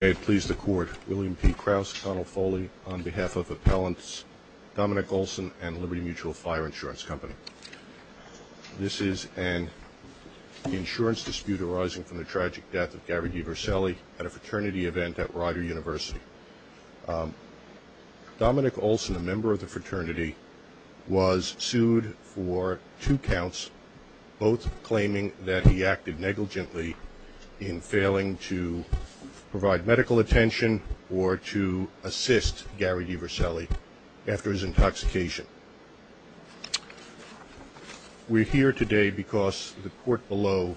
May it please the Court, William P. Krause, Connell Foley, on behalf of Appellants Dominic Olson and Liberty Mutual Fire Insurance Company. This is an insurance dispute arising from the tragic death of Gary DeVircelli at a fraternity event at Rider University. Dominic Olson, a member of the fraternity, was sued for two counts, both claiming that he acted negligently in failing to provide medical attention or to assist Gary DeVircelli after his intoxication. We're here today because the Court below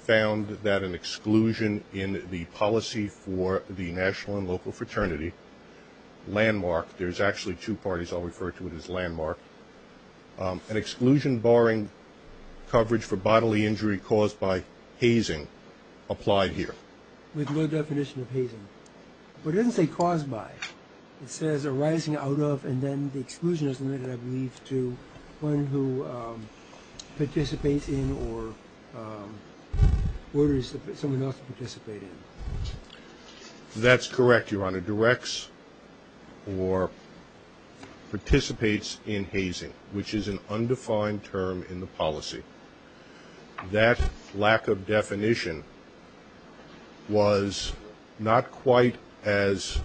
found that an exclusion in the policy for the national and local fraternity, Landmark, there's actually two parties I'll refer to it as Landmark, an exclusion barring coverage for bodily injury caused by hazing applied here. With no definition of hazing. But it doesn't say caused by. It says arising out of and then the exclusion is limited, I believe, to one who participates in or orders someone else to participate in. That's correct, Your Honor, directs or participates in hazing, which is an undefined term in the policy. That lack of definition was not quite as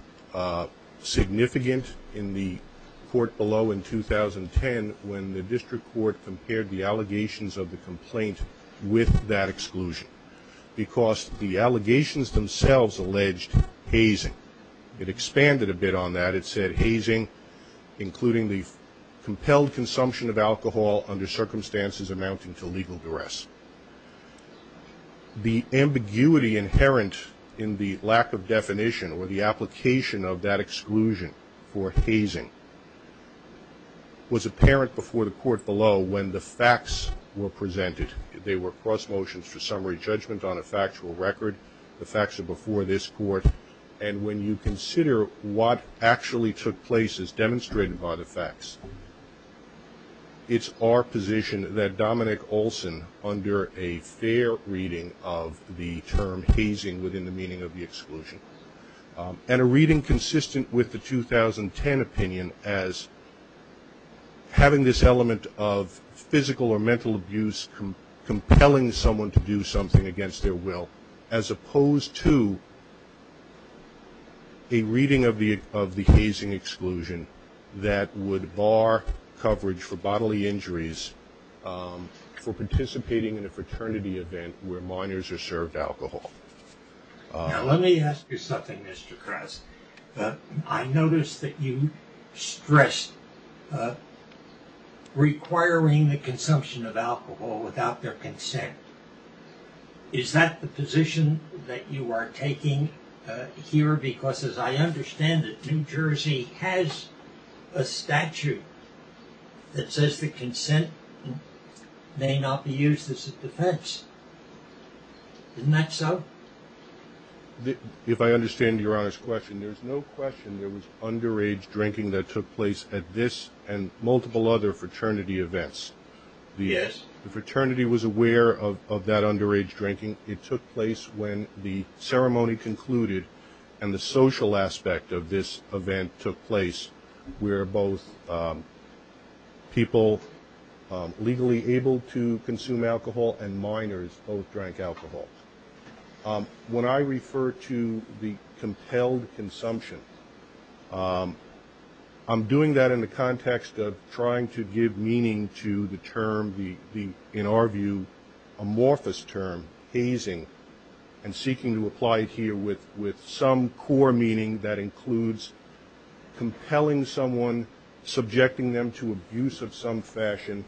significant in the Court below in 2010 when the District Court compared the allegations of the complaint with that exclusion. Because the allegations themselves alleged hazing. It expanded a bit on that. It said hazing, including the compelled consumption of alcohol under circumstances amounting to legal duress. The ambiguity inherent in the lack of definition or the application of that exclusion for hazing was apparent before the Court below when the facts were presented. They were cross motions for summary judgment on a factual record. The facts are before this Court. And when you consider what actually took place as demonstrated by the facts, it's our position that Dominic Olson, under a fair reading of the term hazing within the meaning of the exclusion, and a reading consistent with the 2010 opinion as having this element of physical or mental abuse compelling someone to do something against their will, as opposed to a reading of the hazing exclusion that would bar coverage for bodily injuries for participating in a fraternity event where minors are served alcohol. Now let me ask you something, Mr. Krause. I noticed that you stressed requiring the consumption of alcohol without their consent. Is that the position that you are taking here? Because as I understand it, New Jersey has a statute that says the consent may not be used as a defense. Isn't that so? If I understand your honest question, there's no question there was underage drinking that took place at this and multiple other fraternity events. Yes. The fraternity was aware of that underage drinking. It took place when the ceremony concluded and the social aspect of this event took place, where both people legally able to consume alcohol and minors both drank alcohol. When I refer to the compelled consumption, I'm doing that in the context of trying to give meaning to the term, in our view, amorphous term, hazing, and seeking to apply it here with some core meaning that includes compelling someone, subjecting them to abuse of some fashion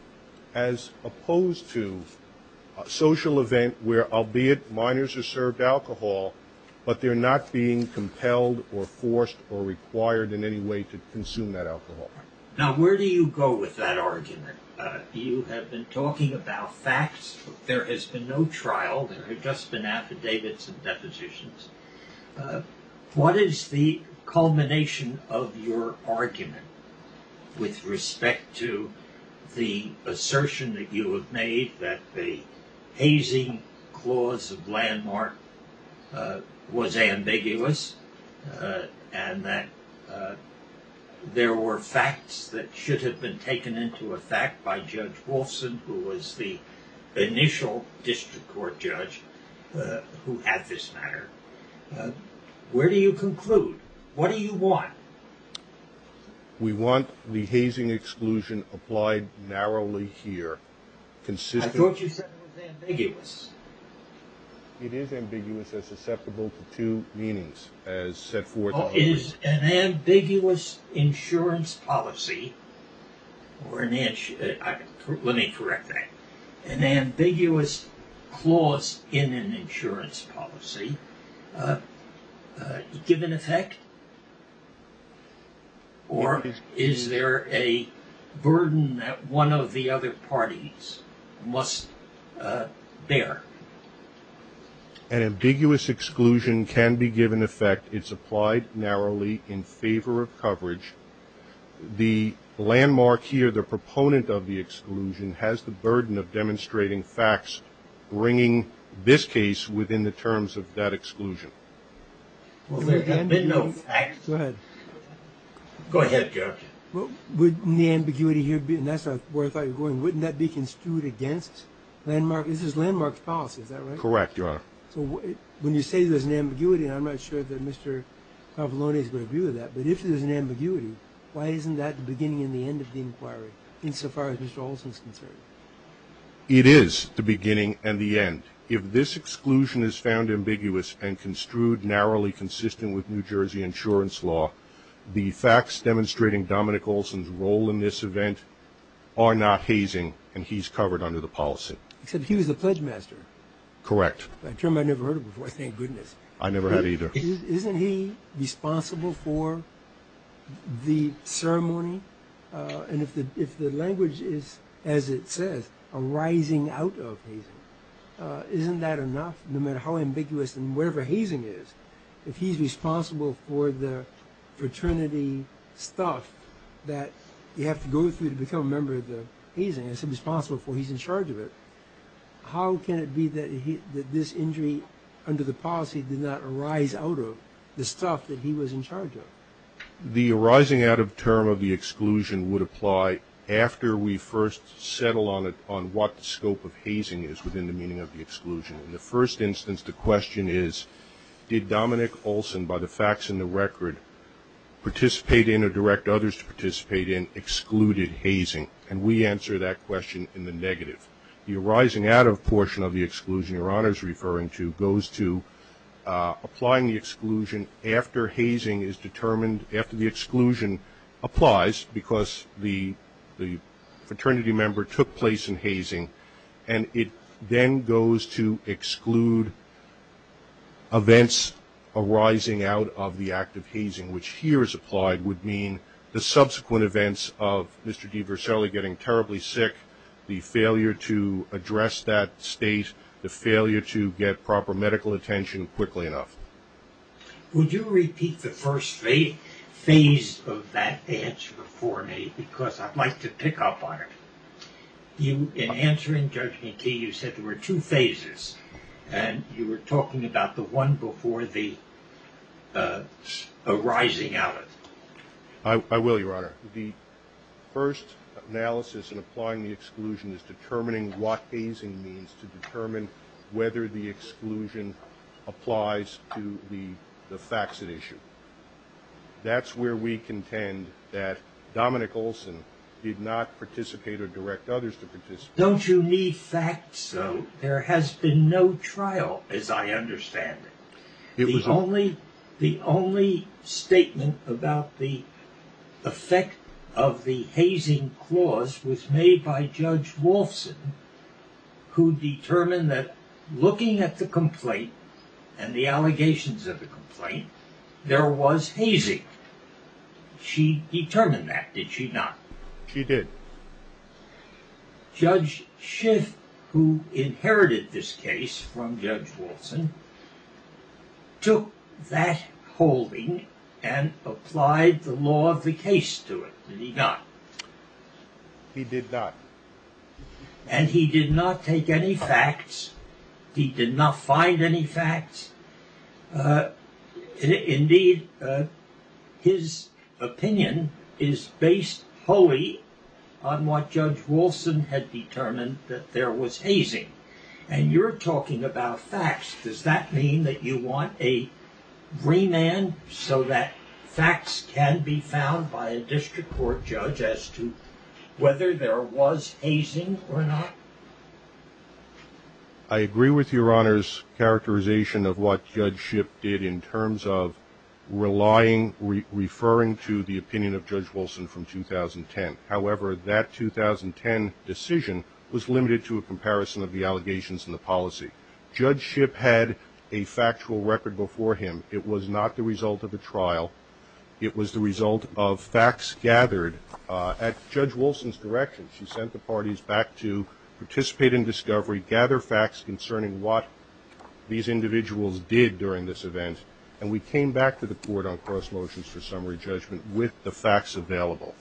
as opposed to a social event where, albeit minors are served alcohol, but they're not being compelled or forced or required in any way to consume that alcohol. Now where do you go with that argument? You have been talking about facts. There has been no trial. There have just been affidavits and depositions. What is the culmination of your argument with respect to the assertion that you have made that the hazing clause of landmark was ambiguous and that there were facts that should have been taken into effect by Judge Wolfson, who was the initial district court judge who had this matter? Where do you conclude? What do you want? We want the hazing exclusion applied narrowly here. I thought you said it was ambiguous. It is ambiguous and susceptible to two meanings, as set forth. Is an ambiguous insurance policy, let me correct that, an ambiguous clause in an insurance policy given effect? Or is there a burden that one of the other parties must bear? An ambiguous exclusion can be given effect. It's applied narrowly in favor of coverage. The landmark here, the proponent of the exclusion, has the burden of demonstrating facts bringing this case within the terms of that exclusion. Go ahead. Wouldn't the ambiguity here be, and that's where I thought you were going, wouldn't that be construed against landmark? This is landmark's policy, is that right? Correct, Your Honor. So when you say there's an ambiguity, and I'm not sure that Mr. Cavallone is going to view that, but if there's an ambiguity, why isn't that the beginning and the end of the inquiry, insofar as Mr. Olson is concerned? It is the beginning and the end. If this exclusion is found ambiguous and construed narrowly consistent with New Jersey insurance law, the facts demonstrating Dominic Olson's role in this event are not hazing, and he's covered under the policy. Except he was the pledge master. Correct. A term I never heard of before, thank goodness. I never had either. Isn't he responsible for the ceremony? And if the language is, as it says, arising out of hazing, isn't that enough? No matter how ambiguous and wherever hazing is, if he's responsible for the fraternity stuff that you have to go through to become a member of the hazing, as he's responsible for, he's in charge of it, how can it be that this injury under the policy did not arise out of the stuff that he was in charge of? The arising out of term of the exclusion would apply after we first settle on what the scope of hazing is within the meaning of the exclusion. In the first instance, the question is, did Dominic Olson, by the facts and the record, participate in or direct others to participate in excluded hazing? And we answer that question in the negative. The arising out of portion of the exclusion Your Honor is referring to goes to applying the exclusion after hazing is determined, after the exclusion applies because the fraternity member took place in hazing, and it then goes to exclude events arising out of the act of hazing, which here is applied would mean the subsequent events of Mr. DiVerselli getting terribly sick, the failure to address that state, the failure to get proper medical attention quickly enough. Would you repeat the first phase of that answer for me because I'd like to pick up on it. In answering, Judge McTee, you said there were two phases, and you were talking about the one before the arising out of it. I will, Your Honor. The first analysis in applying the exclusion is determining what hazing means to determine whether the exclusion applies to the facts at issue. That's where we contend that Dominic Olson did not participate or direct others to participate. Don't you need facts? There has been no trial as I understand it. The only statement about the effect of the hazing clause was made by Judge Wolfson, who determined that looking at the complaint and the allegations of the complaint, there was hazing. She determined that, did she not? She did. Judge Schiff, who inherited this case from Judge Wolfson, took that holding and applied the law of the case to it, did he not? He did not. And he did not take any facts. He did not find any facts. Indeed, his opinion is based wholly on what Judge Wolfson had determined that there was hazing. And you're talking about facts. Does that mean that you want a remand so that facts can be found by a district court judge as to whether there was hazing or not? I agree with Your Honor's characterization of what Judge Schiff did in terms of relying, referring to the opinion of Judge Wolfson from 2010. However, that 2010 decision was limited to a comparison of the allegations and the policy. Judge Schiff had a factual record before him. It was not the result of a trial. It was the result of facts gathered at Judge Wolfson's direction. She sent the parties back to participate in discovery, gather facts concerning what these individuals did during this event, and we came back to the court on cross motions for summary judgment with the facts available.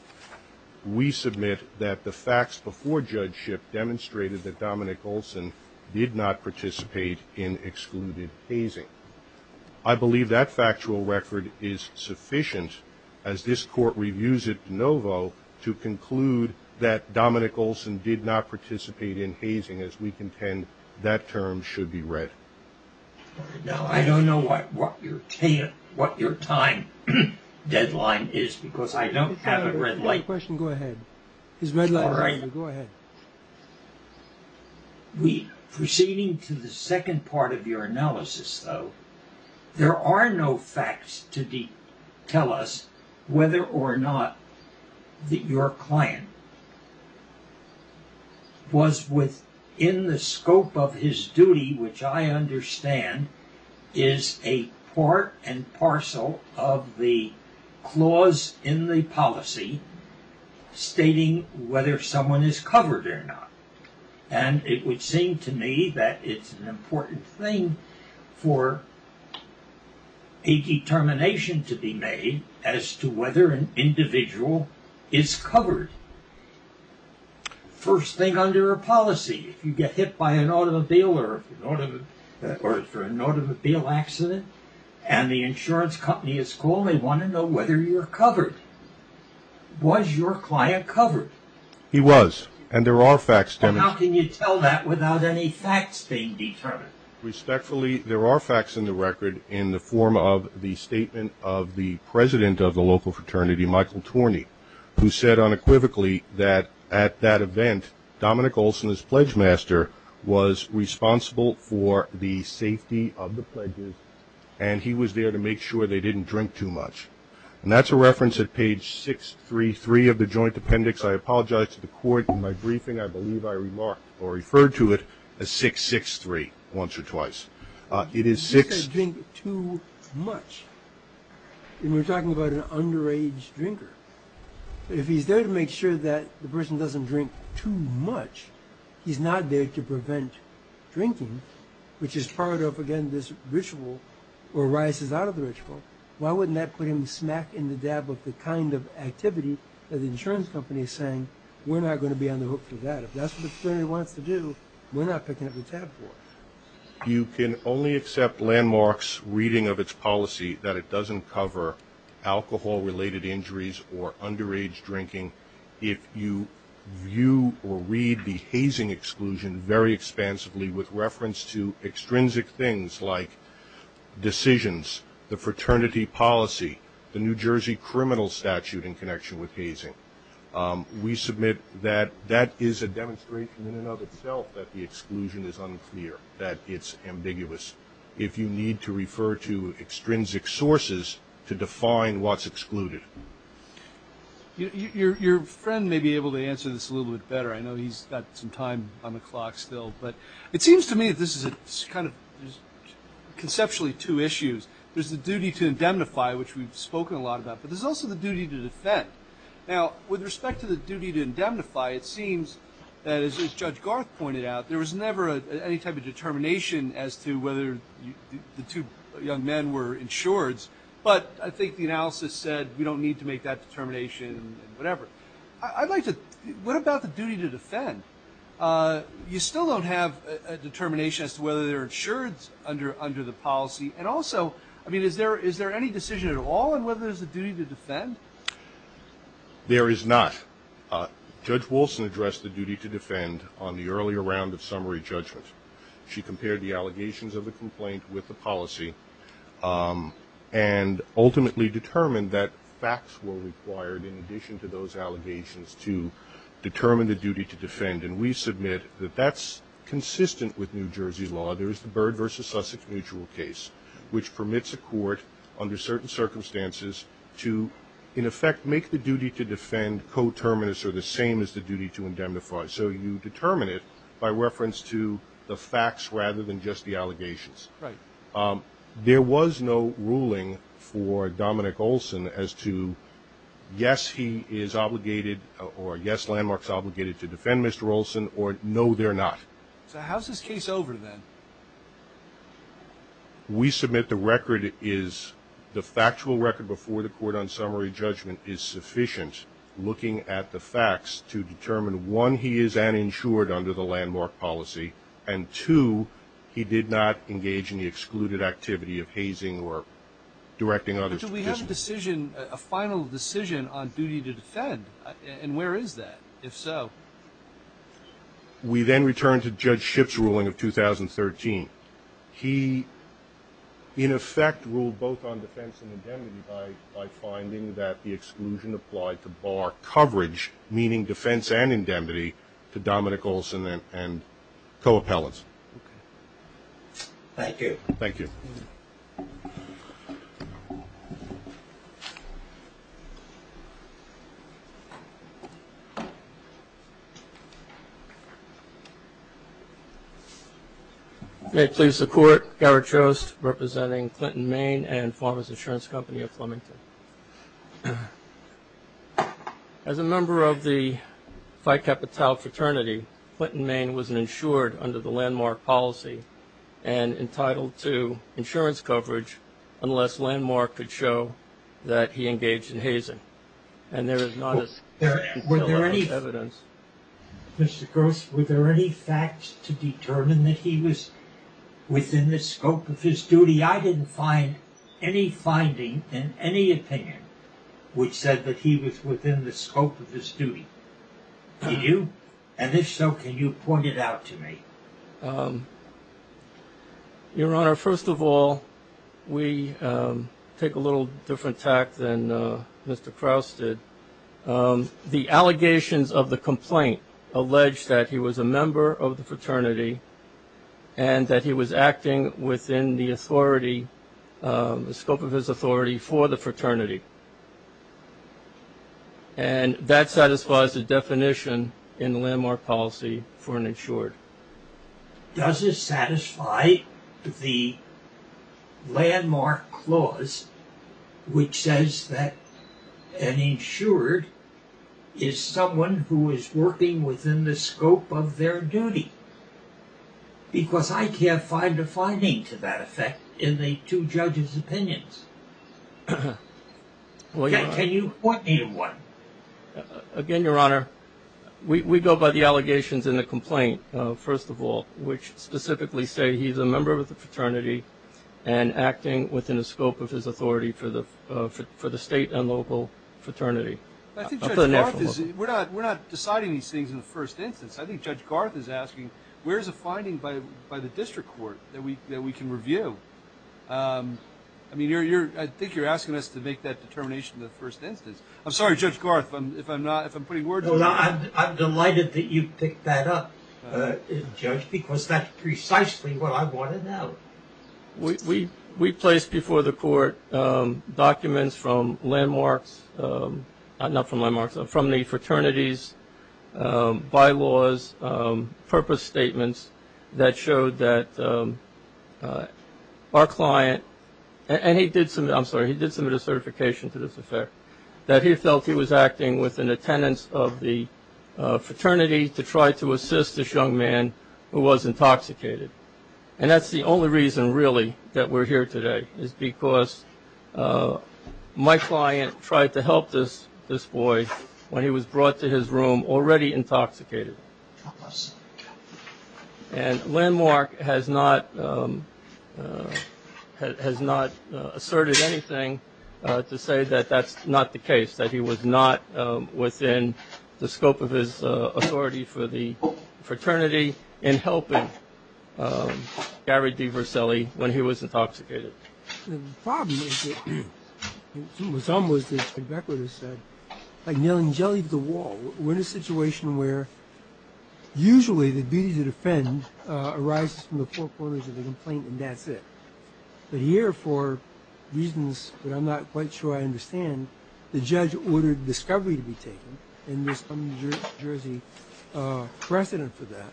We submit that the facts before Judge Schiff demonstrated that Dominic Olson did not participate in excluded hazing. I believe that factual record is sufficient, as this court reviews it de novo, to conclude that Dominic Olson did not participate in hazing, as we contend that term should be read. Now, I don't know what your time deadline is, because I don't have a red light. Go ahead. His red light is on. Go ahead. Proceeding to the second part of your analysis, though, there are no facts to tell us whether or not that your client was within the scope of his duty, which I understand is a part and parcel of the clause in the policy stating whether someone is covered or not. And it would seem to me that it's an important thing for a determination to be made as to whether an individual is covered. First thing under a policy, if you get hit by an automobile or for an automobile accident, and the insurance company is called, they want to know whether you're covered. Was your client covered? He was, and there are facts. But how can you tell that without any facts being determined? Respectfully, there are facts in the record in the form of the statement of the president of the local fraternity, Michael Torney, who said unequivocally that at that event, Dominic Olson, his pledge master, was responsible for the safety of the pledges, and he was there to make sure they didn't drink too much. And that's a reference at page 633 of the joint appendix. I apologize to the court. In my briefing, I believe I remarked or referred to it as 663 once or twice. It is six. If he's going to drink too much, and we're talking about an underage drinker, if he's there to make sure that the person doesn't drink too much, he's not there to prevent drinking, which is part of, again, this ritual or arises out of the ritual, why wouldn't that put him smack in the dab with the kind of activity that the insurance company is saying, we're not going to be on the hook for that. If that's what the fraternity wants to do, we're not picking up the tab for it. You can only accept Landmark's reading of its policy that it doesn't cover alcohol-related injuries or underage drinking if you view or read the hazing exclusion very expansively with reference to extrinsic things like decisions, the fraternity policy, the New Jersey criminal statute in connection with hazing. We submit that that is a demonstration in and of itself that the exclusion is unclear, that it's ambiguous. If you need to refer to extrinsic sources to define what's excluded. Your friend may be able to answer this a little bit better. I know he's got some time on the clock still, but it seems to me that this is kind of conceptually two issues. There's the duty to indemnify, which we've spoken a lot about, but there's also the duty to defend. Now, with respect to the duty to indemnify, it seems that, as Judge Garth pointed out, there was never any type of determination as to whether the two young men were insureds, but I think the analysis said we don't need to make that determination and whatever. But I'd like to, what about the duty to defend? You still don't have a determination as to whether they're insureds under the policy. And also, I mean, is there any decision at all in whether there's a duty to defend? There is not. Judge Wilson addressed the duty to defend on the earlier round of summary judgment. She compared the allegations of the complaint with the policy and ultimately determined that facts were required in addition to those allegations to determine the duty to defend. And we submit that that's consistent with New Jersey law. There is the Byrd v. Sussex mutual case, which permits a court under certain circumstances to, in effect, make the duty to defend coterminous or the same as the duty to indemnify. So you determine it by reference to the facts rather than just the allegations. Right. There was no ruling for Dominic Olson as to, yes, he is obligated or, yes, Landmark's obligated to defend Mr. Olson, or no, they're not. So how's this case over, then? We submit the record is, the factual record before the court on summary judgment is sufficient, looking at the facts to determine, one, he is uninsured under the Landmark policy, and, two, he did not engage in the excluded activity of hazing or directing others to dismiss. But do we have a decision, a final decision on duty to defend? And where is that, if so? We then return to Judge Shipp's ruling of 2013. He, in effect, ruled both on defense and indemnity by finding that the exclusion applied to bar coverage, meaning defense and indemnity, to Dominic Olson and co-appellants. Thank you. Thank you. May it please the Court, Garrett Chost representing Clinton, Maine and Farmers Insurance Company of Flemington. As a member of the Phi Kappa Tau fraternity, Clinton, Maine, was insured under the Landmark policy and entitled to insurance coverage unless Landmark could show that he engaged in hazing. And there is not as much evidence. Mr. Gross, were there any facts to determine that he was within the scope of his duty? See, I didn't find any finding in any opinion which said that he was within the scope of his duty. Did you? And if so, can you point it out to me? Your Honor, first of all, we take a little different tact than Mr. Crouse did. The allegations of the complaint allege that he was a member of the fraternity and that he was acting within the scope of his authority for the fraternity. And that satisfies the definition in the Landmark policy for an insured. Does it satisfy the Landmark clause, which says that an insured is someone who is working within the scope of their duty? Because I can't find a finding to that effect in the two judges' opinions. Can you point me to one? Again, Your Honor, we go by the allegations in the complaint, first of all, which specifically say he's a member of the fraternity and acting within the scope of his authority for the state and local fraternity. We're not deciding these things in the first instance. I think Judge Garth is asking, where is a finding by the district court that we can review? I think you're asking us to make that determination in the first instance. I'm sorry, Judge Garth, if I'm putting words in your mouth. I'm delighted that you picked that up, Judge, because that's precisely what I wanted to know. We placed before the court documents from Landmarks, not from Landmarks, from the fraternities, bylaws, purpose statements that showed that our client, and he did submit a certification to this affair, that he felt he was acting within the tenets of the fraternity to try to assist this young man who was intoxicated. And that's the only reason, really, that we're here today, is because my client tried to help this boy when he was brought to his room already intoxicated. And Landmark has not asserted anything to say that that's not the case, that he was not within the scope of his authority for the fraternity in helping Gary DiVerselli when he was intoxicated. The problem is that, as Mr. Becker has said, like nailing jelly to the wall. We're in a situation where usually the duty to defend arises from the four corners of the complaint, and that's it. But here, for reasons that I'm not quite sure I understand, the judge ordered discovery to be taken, and there's some New Jersey precedent for that.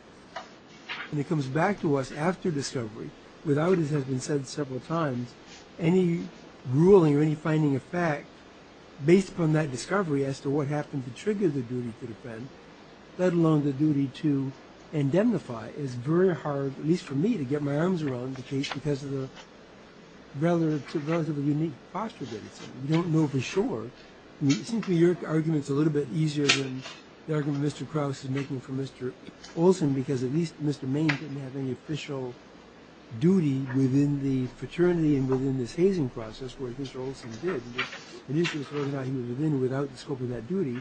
And it comes back to us after discovery, without, as has been said several times, any ruling or any finding of fact based upon that discovery as to what happened to trigger the duty to defend, let alone the duty to indemnify. It's very hard, at least for me, to get my arms around the case because of the relatively unique posture that it's in. We don't know for sure. It seems to me your argument's a little bit easier than the argument Mr. Krauss is making for Mr. Olson because at least Mr. Maine didn't have any official duty within the fraternity and within this hazing process, whereas Mr. Olson did. And usually it's ruled out he was within without the scope of that duty.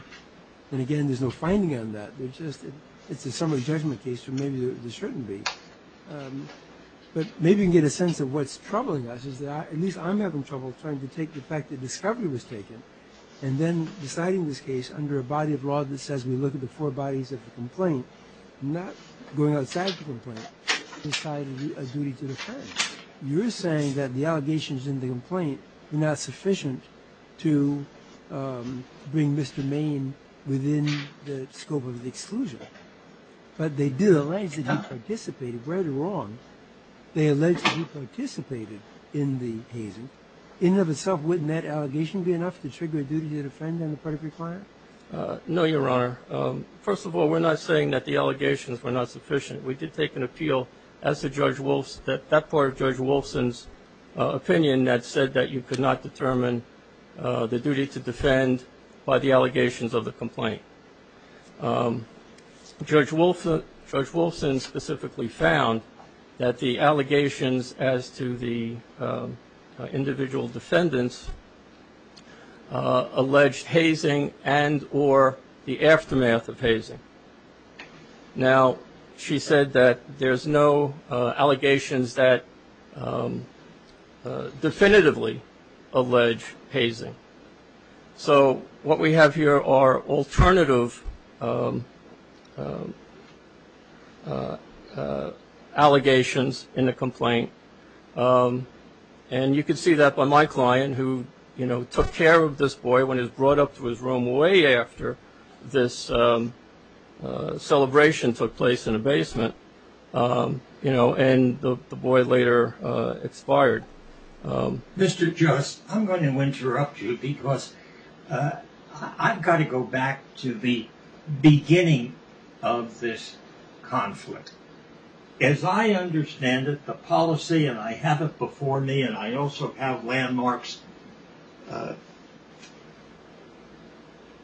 And again, there's no finding on that. It's a summary judgment case, so maybe there shouldn't be. But maybe you can get a sense of what's troubling us, which is that at least I'm having trouble trying to take the fact that discovery was taken and then deciding this case under a body of law that says we look at the four bodies of the complaint, not going outside the complaint, inside a duty to defend. You're saying that the allegations in the complaint are not sufficient to bring Mr. Maine within the scope of the exclusion. But they did allege that he participated. They alleged he participated in the hazing. In and of itself, wouldn't that allegation be enough to trigger a duty to defend on the part of your client? No, Your Honor. First of all, we're not saying that the allegations were not sufficient. We did take an appeal as to that part of Judge Wolfson's opinion that said that you could not determine the duty to defend by the allegations of the complaint. Judge Wolfson specifically found that the allegations as to the individual defendants alleged hazing and or the aftermath of hazing. Now, she said that there's no allegations that definitively allege hazing. So what we have here are alternative allegations in the complaint. And you can see that by my client who, you know, took care of this boy when he was brought up to his room way after this celebration took place in a basement. And the boy later expired. Mr. Just, I'm going to interrupt you because I've got to go back to the beginning of this conflict. As I understand it, the policy, and I have it before me, and I also have Landmark's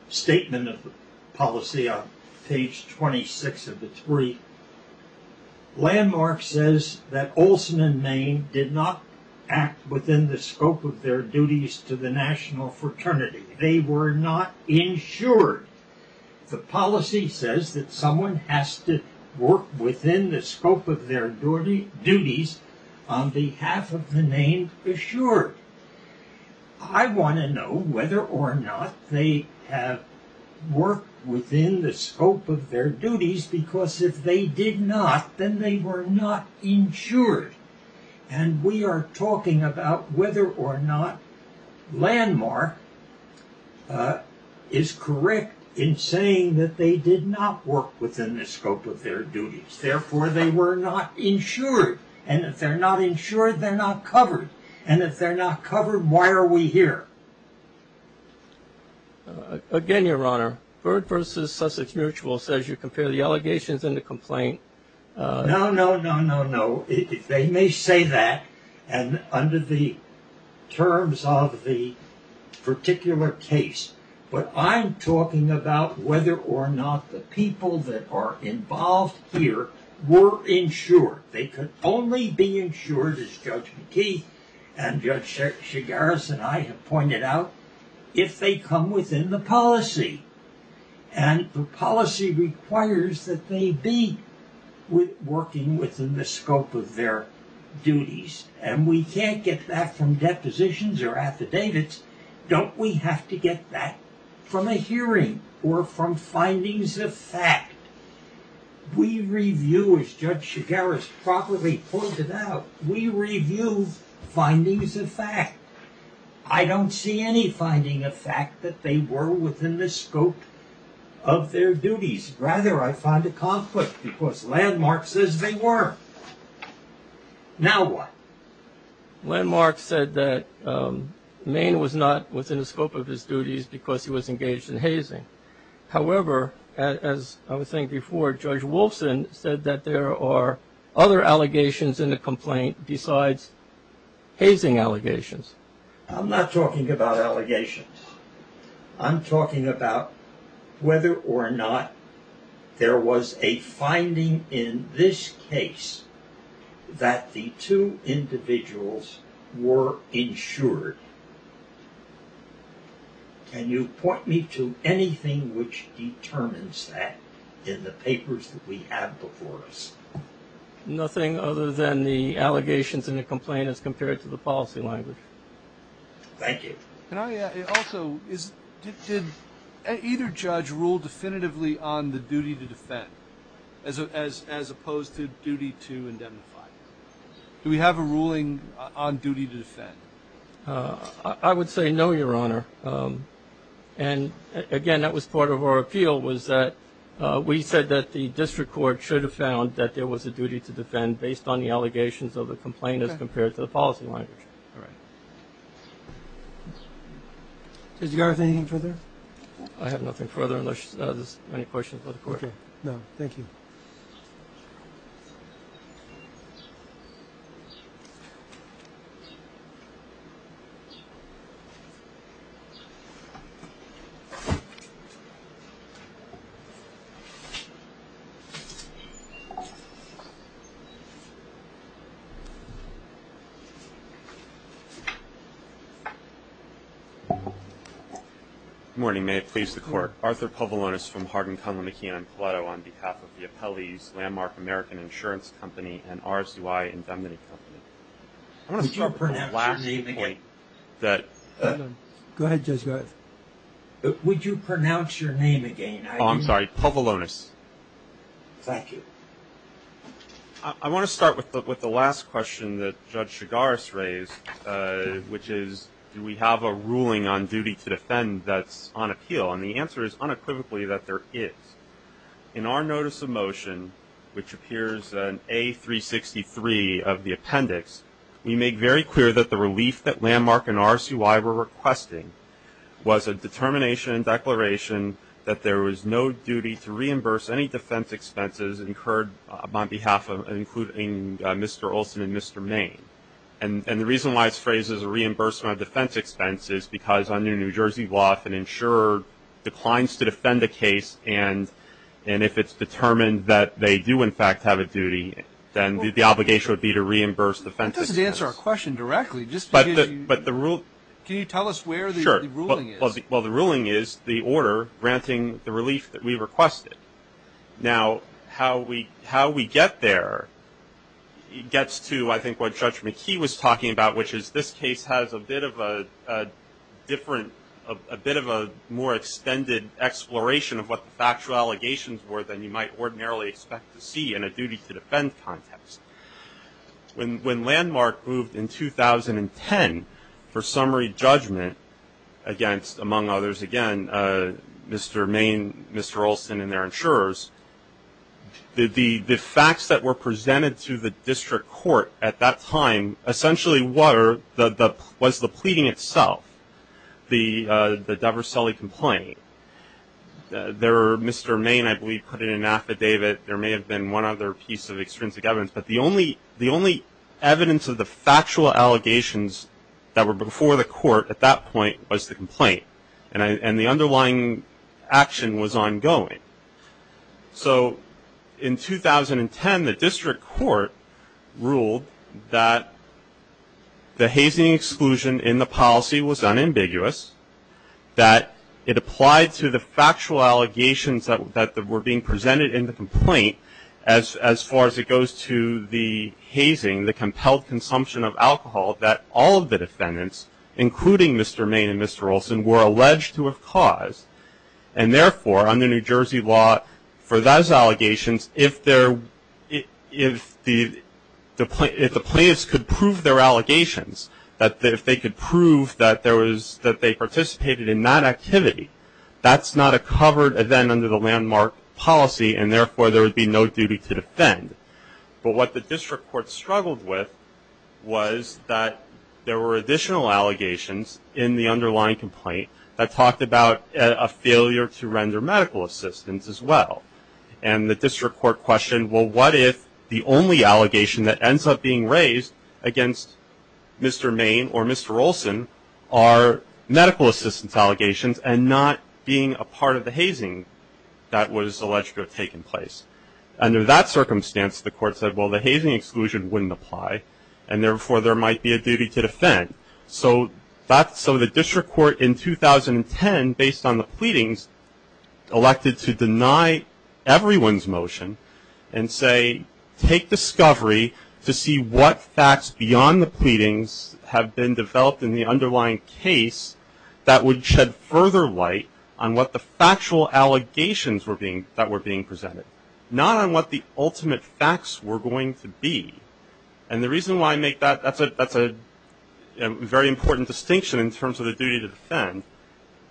statement of policy on page 26 of the three. Landmark says that Olson and Main did not act within the scope of their duties to the National Fraternity. They were not insured. The policy says that someone has to work within the scope of their duties on behalf of the named insured. I want to know whether or not they have worked within the scope of their duties because if they did not, then they were not insured. And we are talking about whether or not Landmark is correct in saying that they did not work within the scope of their duties. Therefore, they were not insured. And if they're not insured, they're not covered. And if they're not covered, why are we here? Again, Your Honor, Bird versus Sussex Mutual says you compare the allegations and the complaint. No, no, no, no, no. They may say that and under the terms of the particular case. But I'm talking about whether or not the people that are involved here were insured. They could only be insured, as Judge McKeith and Judge Shigaris and I have pointed out, if they come within the policy. And the policy requires that they be working within the scope of their duties. And we can't get that from depositions or affidavits. Don't we have to get that from a hearing or from findings of fact? We review, as Judge Shigaris properly pointed out, we review findings of fact. I don't see any finding of fact that they were within the scope of their duties. Rather, I find a conflict because Landmark says they were. Now what? Landmark said that Maine was not within the scope of his duties because he was engaged in hazing. However, as I was saying before, Judge Wolfson said that there are other allegations in the complaint besides hazing allegations. I'm not talking about allegations. I'm talking about whether or not there was a finding in this case that the two individuals were insured. Can you point me to anything which determines that in the papers that we have before us? Nothing other than the allegations in the complaint as compared to the policy language. Thank you. Also, did either judge rule definitively on the duty to defend as opposed to duty to indemnify? I would say no, Your Honor. And again, that was part of our appeal was that we said that the district court should have found that there was a duty to defend based on the allegations of the complaint as compared to the policy language. Judge Shigaris, anything further? I have nothing further unless there's any questions of the court. No, thank you. Good morning. May it please the court. Arthur Povilonis from Hardin, Conlin, McKeon, and Paleto on behalf of the Appellee's Landmark American Insurance Company and RZY Indemnity Company. Would you pronounce your name again? Would you pronounce your name again? Oh, I'm sorry. Povilonis. Thank you. I want to start with the last question that Judge Shigaris raised, which is do we have a ruling on duty to defend that's on appeal? And the answer is unequivocally that there is. In our notice of motion, which appears in A363 of the appendix, we make very clear that the relief that Landmark and RZY were requesting was a determination and declaration that there was no duty to reimburse any defense expenses incurred on behalf of including Mr. Olson and Mr. Main. And the reason why it's phrased as a reimbursement of defense expenses is because under New Jersey law, if an insurer declines to defend a case and if it's determined that they do, in fact, have a duty, then the obligation would be to reimburse the defense expenses. That doesn't answer our question directly. Can you tell us where the ruling is? Sure. Well, the ruling is the order granting the relief that we requested. Now, how we get there gets to, I think, what Judge McKee was talking about, which is this case has a bit of a different, a bit of a more extended exploration of what the factual allegations were than you might ordinarily expect to see in a duty to defend context. When Landmark moved in 2010 for summary judgment against, among others, again, Mr. Main, Mr. Olson, and their insurers, the facts that were presented to the district court at that time essentially was the pleading itself, the Dover Sully complaint. There, Mr. Main, I believe, put in an affidavit. There may have been one other piece of extrinsic evidence, but the only evidence of the factual allegations that were before the court at that point was the complaint, and the underlying action was ongoing. So in 2010, the district court ruled that the hazing exclusion in the policy was unambiguous, that it applied to the factual allegations that were being presented in the complaint, as far as it goes to the hazing, the compelled consumption of alcohol, that all of the defendants, including Mr. Main and Mr. Olson, were alleged to have caused, and therefore, under New Jersey law, for those allegations, if the plaintiffs could prove their allegations, if they could prove that they participated in that activity, that's not a covered event under the Landmark policy, and therefore, there would be no duty to defend. But what the district court struggled with was that there were additional allegations in the underlying complaint that talked about a failure to render medical assistance as well, and the district court questioned, well, what if the only allegation that ends up being raised against Mr. Main or Mr. Olson are medical assistance allegations and not being a part of the hazing that was alleged to have taken place? Under that circumstance, the court said, well, the hazing exclusion wouldn't apply, and therefore, there might be a duty to defend. So the district court in 2010, based on the pleadings, elected to deny everyone's motion and say, take discovery to see what facts beyond the pleadings have been developed in the underlying case that would shed further light on what the factual allegations that were being presented, not on what the ultimate facts were going to be. And the reason why I make that, that's a very important distinction in terms of the duty to defend,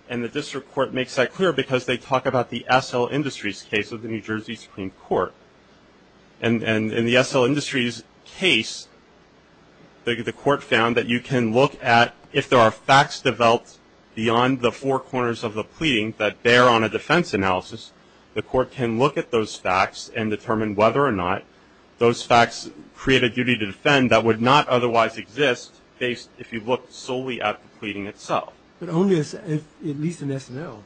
and the district court makes that clear because they talk about the SL Industries case of the New Jersey Supreme Court. And in the SL Industries case, the court found that you can look at, if there are facts developed beyond the four corners of the pleading that bear on a defense analysis, the court can look at those facts and determine whether or not those facts create a duty to defend that would not otherwise exist if you looked solely at the pleading itself. But only if, at least in SNL,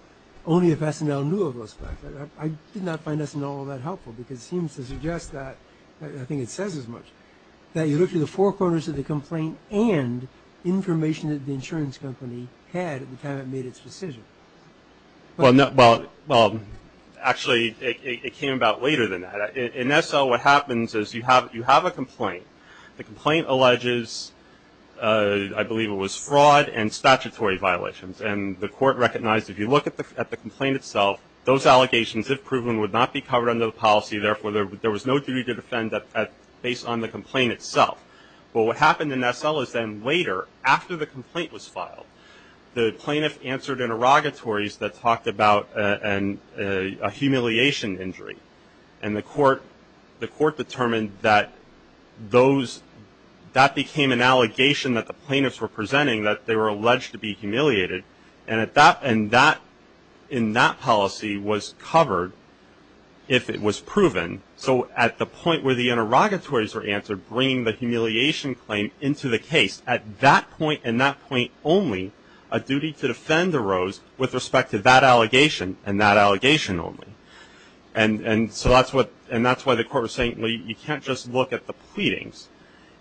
only if SNL knew of those facts. I did not find SNL all that helpful because it seems to suggest that, I think it says as much, that you look at the four corners of the complaint and information that the insurance company had at the time it made its decision. Well, actually, it came about later than that. In SL, what happens is you have a complaint. The complaint alleges, I believe it was fraud and statutory violations. And the court recognized if you look at the complaint itself, those allegations, if proven, would not be covered under the policy. Therefore, there was no duty to defend based on the complaint itself. But what happened in SL is then later, after the complaint was filed, the plaintiff answered interrogatories that talked about a humiliation injury. And the court determined that that became an allegation that the plaintiffs were presenting, that they were alleged to be humiliated. And that, in that policy, was covered if it was proven. So at the point where the interrogatories were answered, bringing the humiliation claim into the case, at that point and that point only, a duty to defend arose with respect to that allegation and that allegation only. And so that's why the court was saying, well, you can't just look at the pleadings.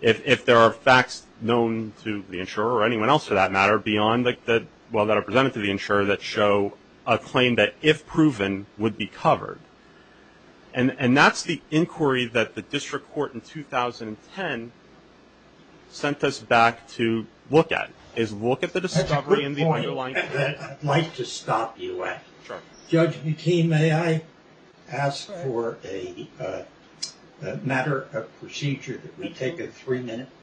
If there are facts known to the insurer or anyone else, for that matter, beyond that are presented to the insurer that show a claim that, if proven, would be covered. And that's the inquiry that the district court in 2010 sent us back to look at, is look at the discovery in the underlying claim. I'd like to stop you at. Judge McKean, may I ask for a matter of procedure that we take a three-minute break?